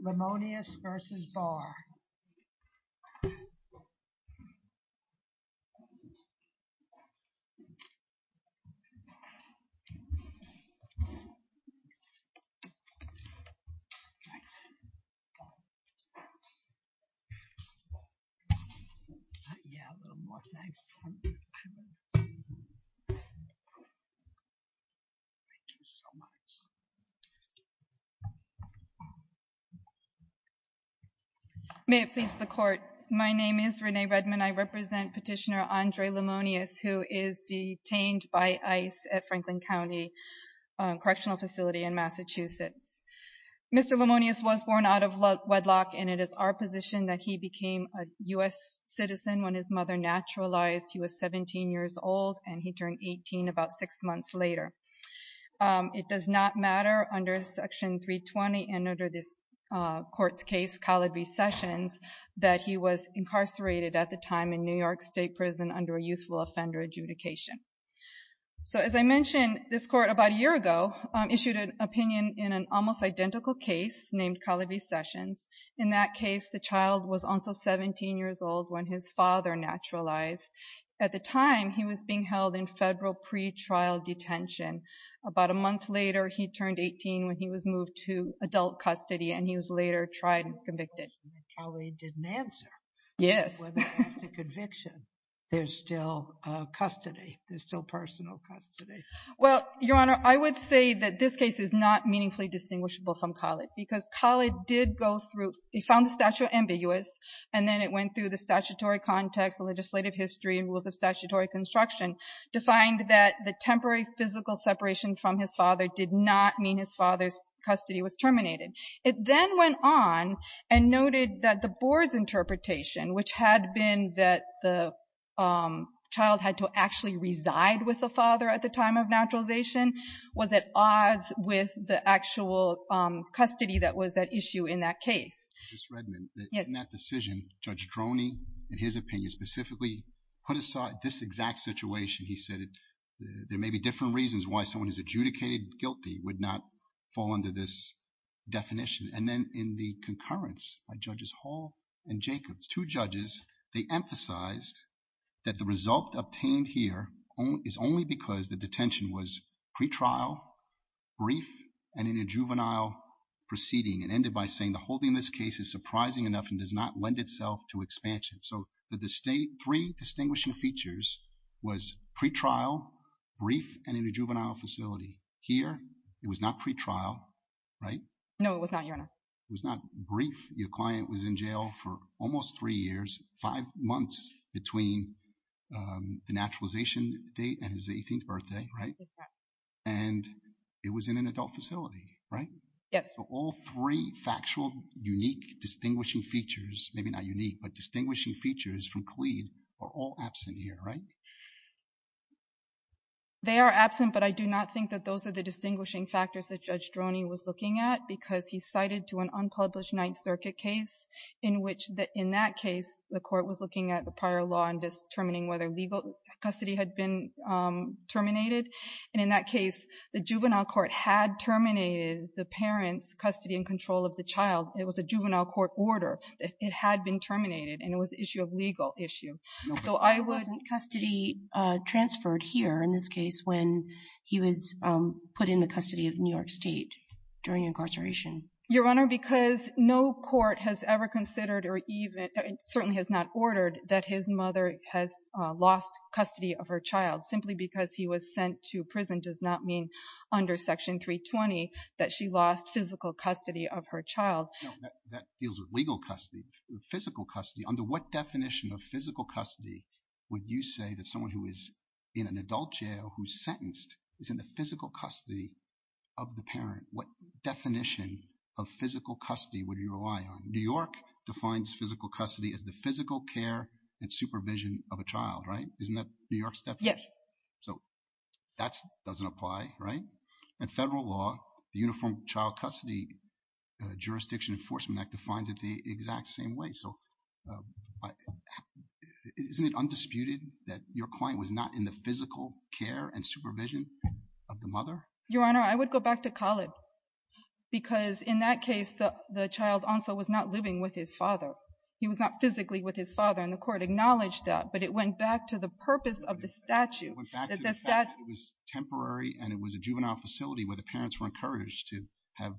Lemonious v. Barr May it please the court. My name is Renee Redmond. I represent petitioner Andre Lemonious who is detained by ICE at Franklin County Correctional Facility in Massachusetts. Mr. Lemonious was born out of wedlock and it is our position that he became a U.S. citizen when his mother naturalized. He was 17 years old and he turned 18 about six months later. It does not matter under Section 320 and under this court's case, Collard v. Sessions, that he was incarcerated at the time in New York State Prison under a youthful offender adjudication. So as I mentioned, this court about a year ago issued an opinion in an almost identical case named Collard v. Sessions. In that case, the child was also 17 years old when his father naturalized. At the time, he was being held in federal pretrial detention. About a month later, he turned 18 when he was moved to adult custody and he was later tried and convicted. Your Honor, I would say that this case is not meaningfully distinguishable from Collard because Collard did go through, he found the statute ambiguous and then it went through the statutory context, the legislative history, and rules of statutory construction to find that the temporary physical separation from his father did not mean his father's custody was terminated. It then went on and noted that the board's interpretation, which had been that the child had to actually reside with the father at the time of naturalization, was at odds with the actual custody that was at issue in that case. Judge Redmond, in that decision, Judge Droney, in his opinion, specifically put aside this exact situation. He said there may be different reasons why someone who's adjudicated guilty would not fall under this definition. And then in the concurrence by Judges Hall and Jacobs, two judges, they emphasized that the result obtained here is only because the detention was pre-trial, brief, and in a juvenile proceeding, and ended by saying the whole thing in this case is surprising enough and does not lend itself to expansion. So the three distinguishing features was pre-trial, brief, and in a juvenile facility. Here, it was not pre-trial, right? No, it was not, Your Honor. It was not brief. Your client was in jail for almost three years, five months between the naturalization date and his 18th birthday, right? Exactly. And it was in an adult facility, right? Yes. So all three factual, unique, distinguishing features, maybe not unique, but distinguishing features from Khalid are all absent here, right? They are absent, but I do not think that those are the distinguishing factors that Judge Droney was looking at because he cited to an unpublished Ninth Circuit case in which in that case, the court was looking at the prior law and determining whether legal custody had been terminated. And in that case, the juvenile court had terminated the parent's custody and control of the child. It was a juvenile court order. It had been terminated, and it was an issue of legal issue. No, but why wasn't custody transferred here in this case when he was put in the custody of New York State during incarceration? Your Honor, because no court has ever considered or even certainly has not ordered that his mother has lost custody of her child. Simply because he was sent to prison does not mean under Section 320 that she lost physical custody of her child. That deals with legal custody, physical custody. Under what definition of physical custody would you say that someone who is in an adult jail who's sentenced is in the physical custody of the parent? What definition of physical custody would you rely on? New York defines physical custody as the physical care and supervision of a child, right? Isn't that New York's definition? Yes. So that doesn't apply, right? And federal law, the Uniform Child Custody Jurisdiction Enforcement Act defines it the exact same way. So isn't it undisputed that your client was not in the physical care and supervision of the mother? Your Honor, I would go back to Khaled. Because in that case, the child also was not living with his father. He was not physically with his father and the court acknowledged that. But it went back to the purpose of the statute. It went back to the fact that it was temporary and it was a juvenile facility where the parents were encouraged to have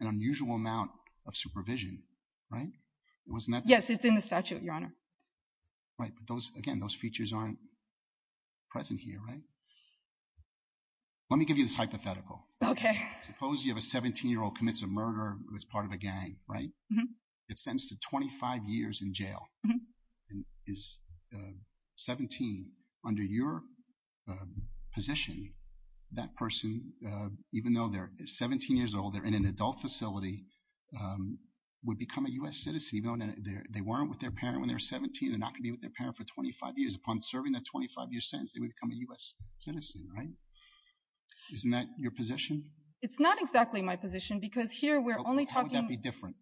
an unusual amount of supervision, right? Wasn't that the case? Yes, it's in the statute, Your Honor. Right. But again, those features aren't present here, right? Let me give you this hypothetical. Okay. Suppose you have a 17-year-old commits a murder who is part of a gang, right? Mm-hmm. It's sentenced to 25 years in jail. Mm-hmm. And is 17. Under your position, that person, even though they're 17 years old, they're in an adult facility, would become a U.S. citizen even though they weren't with their parent when they were 17. They're not going to be with their parent for 25 years. Upon serving that 25-year sentence, they would become a U.S. citizen, right? Isn't that your position? It's not exactly my position because here we're only talking— How would that be different?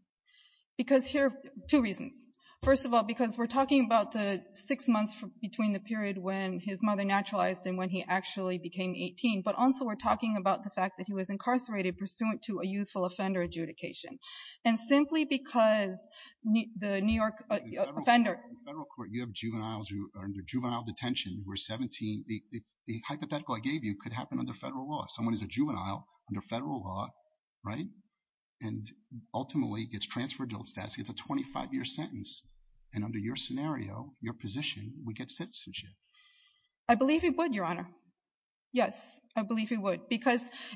Because here—two reasons. First of all, because we're talking about the six months between the period when his mother naturalized and when he actually became 18, but also we're talking about the fact that he was incarcerated pursuant to a youthful offender adjudication. And simply because the New York— In federal court, you have juveniles who are under juvenile detention who are 17. The hypothetical I gave you could happen under federal law. Someone is a juvenile under federal law, right, and ultimately gets transferred to adult status, gets a 25-year sentence, and under your scenario, your position, would get citizenship. I believe he would, Your Honor. Yes, I believe he would.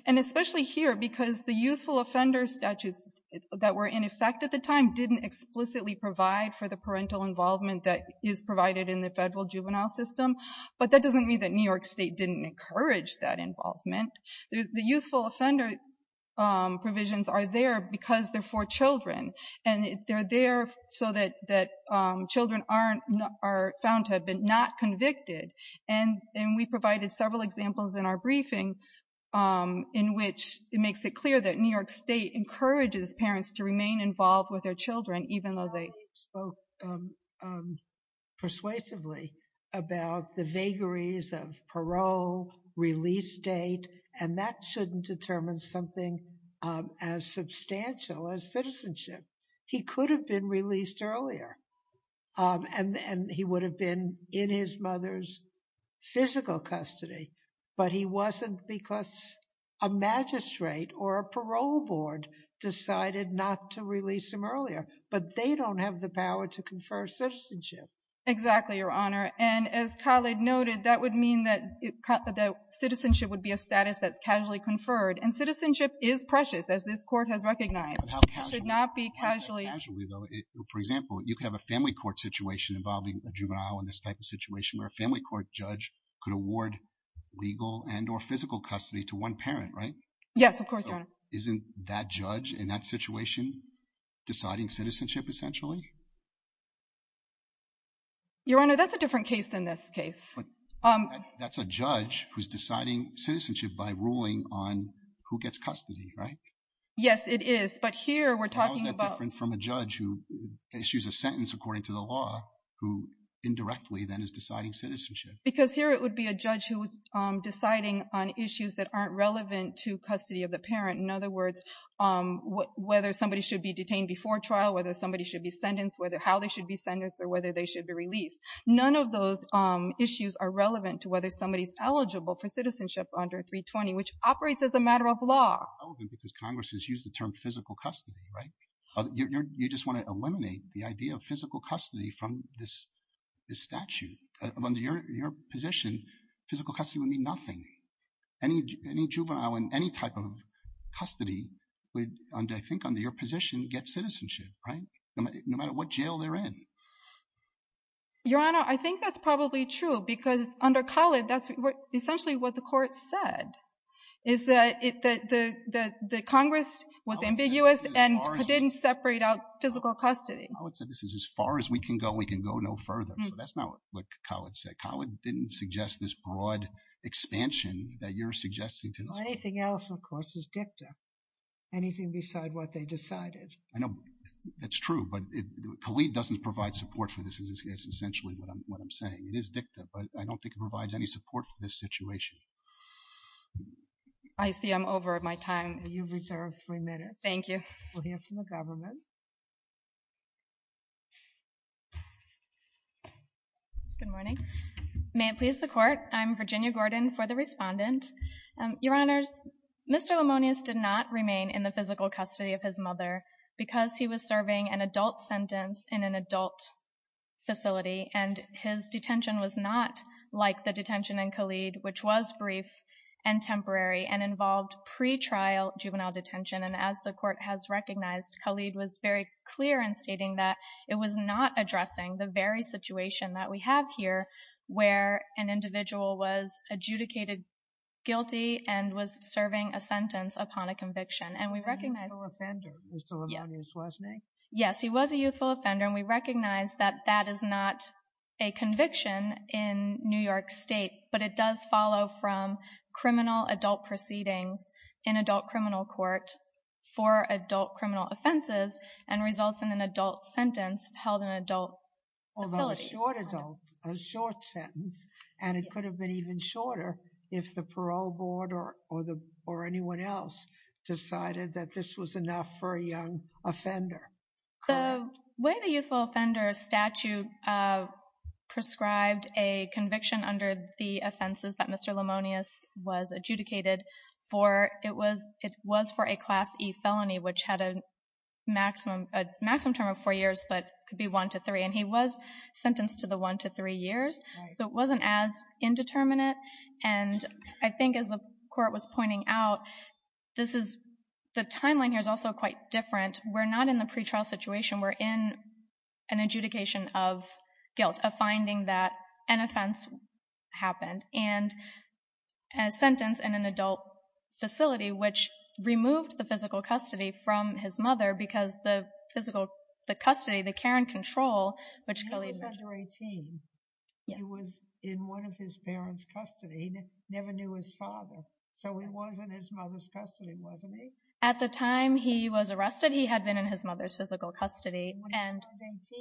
And especially here because the youthful offender statutes that were in effect at the time didn't explicitly provide for the parental involvement that is provided in the federal juvenile system. But that doesn't mean that New York State didn't encourage that involvement. The youthful offender provisions are there because they're for children. And they're there so that children are found to have been not convicted. And we provided several examples in our briefing in which it makes it clear that New York State encourages parents to remain involved with their children even though they— —spoke persuasively about the vagaries of parole, release date, and that shouldn't determine something as substantial as citizenship. He could have been released earlier. And he would have been in his mother's physical custody. But he wasn't because a magistrate or a parole board decided not to release him earlier. But they don't have the power to confer citizenship. Exactly, Your Honor. And as Khaled noted, that would mean that citizenship would be a status that's casually conferred. And citizenship is precious, as this Court has recognized. It should not be casually— For example, you could have a family court situation involving a juvenile in this type of situation where a family court judge could award legal and or physical custody to one parent, right? Yes, of course, Your Honor. Isn't that judge in that situation deciding citizenship essentially? Your Honor, that's a different case than this case. That's a judge who's deciding citizenship by ruling on who gets custody, right? Yes, it is. But here we're talking about— who indirectly then is deciding citizenship. Because here it would be a judge who is deciding on issues that aren't relevant to custody of the parent. In other words, whether somebody should be detained before trial, whether somebody should be sentenced, how they should be sentenced, or whether they should be released. None of those issues are relevant to whether somebody is eligible for citizenship under 320, which operates as a matter of law. Because Congress has used the term physical custody, right? You just want to eliminate the idea of physical custody from this statute. Under your position, physical custody would mean nothing. Any juvenile in any type of custody would, I think under your position, get citizenship, right? No matter what jail they're in. Your Honor, I think that's probably true. Because under Khaled, that's essentially what the court said, is that the Congress was ambiguous and didn't separate out physical custody. Khaled said this is as far as we can go, and we can go no further. So that's not what Khaled said. Khaled didn't suggest this broad expansion that you're suggesting to this court. Anything else, of course, is dicta. Anything beside what they decided. I know that's true, but Khaled doesn't provide support for this, because that's essentially what I'm saying. It is dicta, but I don't think it provides any support for this situation. I see I'm over my time. You've reserved three minutes. Thank you. We'll hear from the government. Good morning. May it please the Court, I'm Virginia Gordon for the Respondent. Your Honors, Mr. Lemonius did not remain in the physical custody of his mother because he was serving an adult sentence in an adult facility and his detention was not like the detention in Khaled, which was brief and temporary and involved pretrial juvenile detention. And as the Court has recognized, Khaled was very clear in stating that it was not addressing the very situation that we have here where an individual was adjudicated guilty and was serving a sentence upon a conviction. He was a youthful offender, Mr. Lemonius, wasn't he? Yes, he was a youthful offender, and we recognize that that is not a conviction in New York State, but it does follow from criminal adult proceedings in adult criminal court for adult criminal offenses and results in an adult sentence held in adult facilities. Although a short sentence, and it could have been even shorter if the parole board or anyone else decided that this was enough for a young offender. The way the youthful offender statute prescribed a conviction under the offenses that Mr. Lemonius was adjudicated for, it was for a Class E felony, which had a maximum term of four years, but could be one to three, and he was sentenced to the one to three years, so it wasn't as indeterminate. And I think as the Court was pointing out, the timeline here is also quite different. We're not in the pretrial situation. We're in an adjudication of guilt, a finding that an offense happened, and a sentence in an adult facility, which removed the physical custody from his mother because the physical custody, the care and control, which colleagues— He was under 18. He was in one of his parents' custody. He never knew his father, so he was in his mother's custody, wasn't he? At the time he was arrested, he had been in his mother's physical custody. He was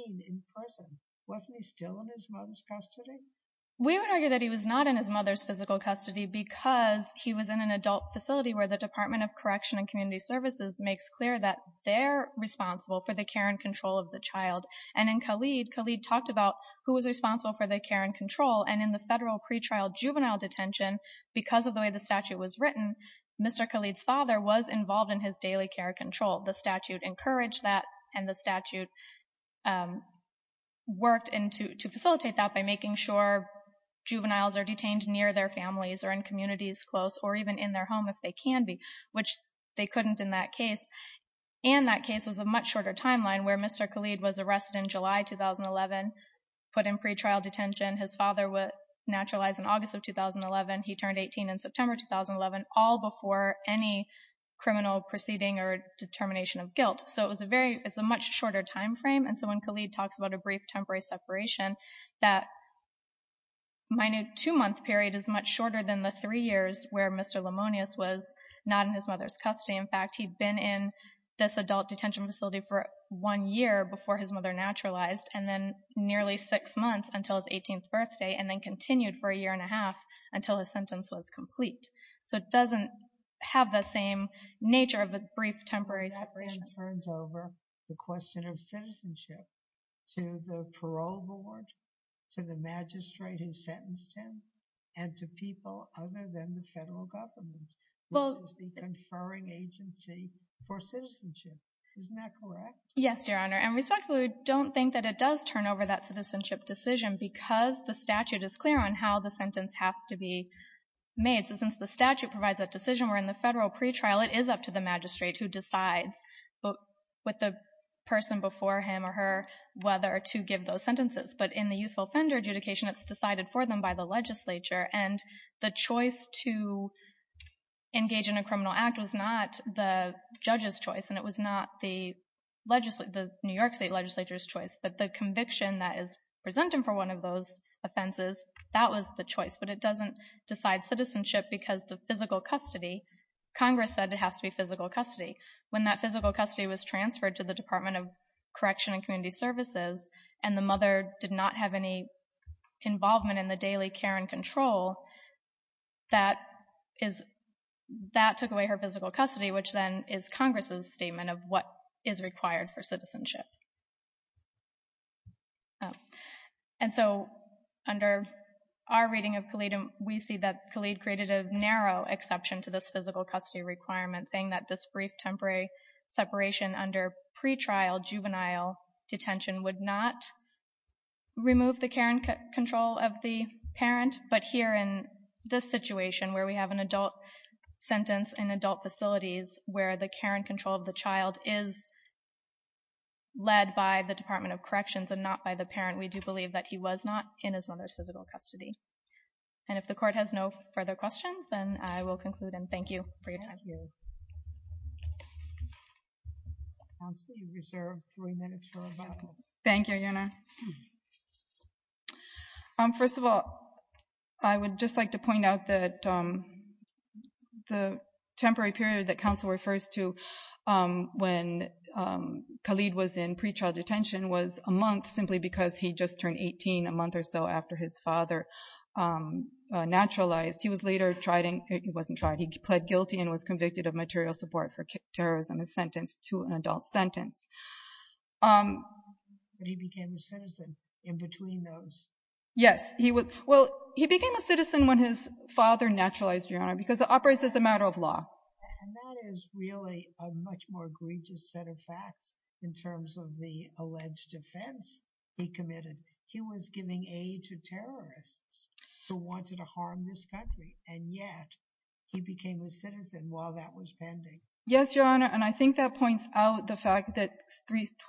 18 in person. Wasn't he still in his mother's custody? We would argue that he was not in his mother's physical custody because he was in an adult facility where the Department of Correction and Community Services makes clear that they're responsible for the care and control of the child. And in Khalid, Khalid talked about who was responsible for the care and control, and in the federal pretrial juvenile detention, because of the way the statute was written, Mr. Khalid's father was involved in his daily care and control. The statute encouraged that, and the statute worked to facilitate that by making sure juveniles are detained near their families or in communities close or even in their home if they can be, which they couldn't in that case. And that case was a much shorter timeline, where Mr. Khalid was arrested in July 2011, put in pretrial detention. His father was naturalized in August of 2011. He turned 18 in September 2011, all before any criminal proceeding or determination of guilt. So it's a much shorter time frame. And so when Khalid talks about a brief temporary separation, that minute two-month period is much shorter than the three years where Mr. Lamonius was not in his mother's custody. In fact, he'd been in this adult detention facility for one year before his mother naturalized, and then nearly six months until his 18th birthday, and then continued for a year and a half until his sentence was complete. So it doesn't have the same nature of a brief temporary separation. But that then turns over the question of citizenship to the parole board, to the magistrate who sentenced him, and to people other than the federal government, which is the conferring agency for citizenship. Isn't that correct? Yes, Your Honor. And respectfully, we don't think that it does turn over that citizenship decision because the statute is clear on how the sentence has to be made. So since the statute provides that decision where in the federal pretrial it is up to the magistrate who decides with the person before him or her whether to give those sentences. But in the youthful offender adjudication, it's decided for them by the legislature. And the choice to engage in a criminal act was not the judge's choice and it was not the New York State legislature's choice. But the conviction that is presented for one of those offenses, that was the choice. But it doesn't decide citizenship because the physical custody, Congress said it has to be physical custody. When that physical custody was transferred to the Department of Correction and Community Services, and the mother did not have any involvement in the daily care and control, that took away her physical custody, which then is Congress's statement of what is required for citizenship. And so under our reading of Khalid, we see that Khalid created a narrow exception to this physical custody requirement saying that this brief temporary separation under pretrial juvenile detention would not remove the care and control of the parent. But here in this situation where we have an adult sentence in adult facilities where the care and control of the child is led by the Department of Corrections and not by the parent, we do believe that he was not in his mother's physical custody. And if the court has no further questions, then I will conclude. And thank you for your time. Thank you. Constable, you're served three minutes for rebuttal. Thank you, Jenna. First of all, I would just like to point out that the temporary period that counsel refers to when Khalid was in pretrial detention was a month simply because he just turned 18 a month or so after his father naturalized. He was later tried in he wasn't tried, he pled guilty and was convicted of material support for terrorism and sentenced to an adult sentence. But he became a citizen in between those. Yes, he was. Well, he became a citizen when his father naturalized, Your Honor, because it operates as a matter of law. And that is really a much more egregious set of facts in terms of the alleged offense he committed. He was giving aid to terrorists who wanted to harm this country. Yes, Your Honor. And I think that points out the fact that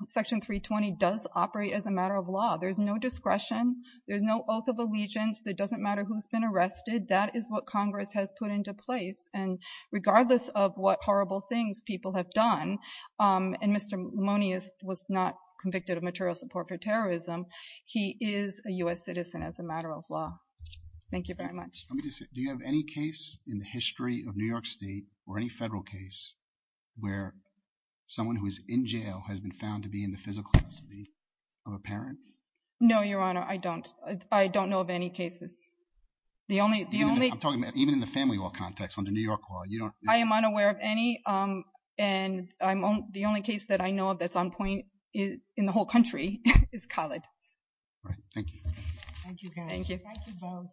Section 320 does operate as a matter of law. There's no discretion. There's no oath of allegiance. It doesn't matter who's been arrested. That is what Congress has put into place. And regardless of what horrible things people have done, and Mr. Monius was not convicted of material support for terrorism, he is a U.S. citizen as a matter of law. Thank you very much. Do you have any case in the history of New York State or any federal case where someone who is in jail has been found to be in the physical custody of a parent? No, Your Honor. I don't. I don't know of any cases. I'm talking about even in the family law context under New York law. I am unaware of any. And the only case that I know of that's on point in the whole country is Khaled. All right. Thank you. Thank you, guys. Thank you both.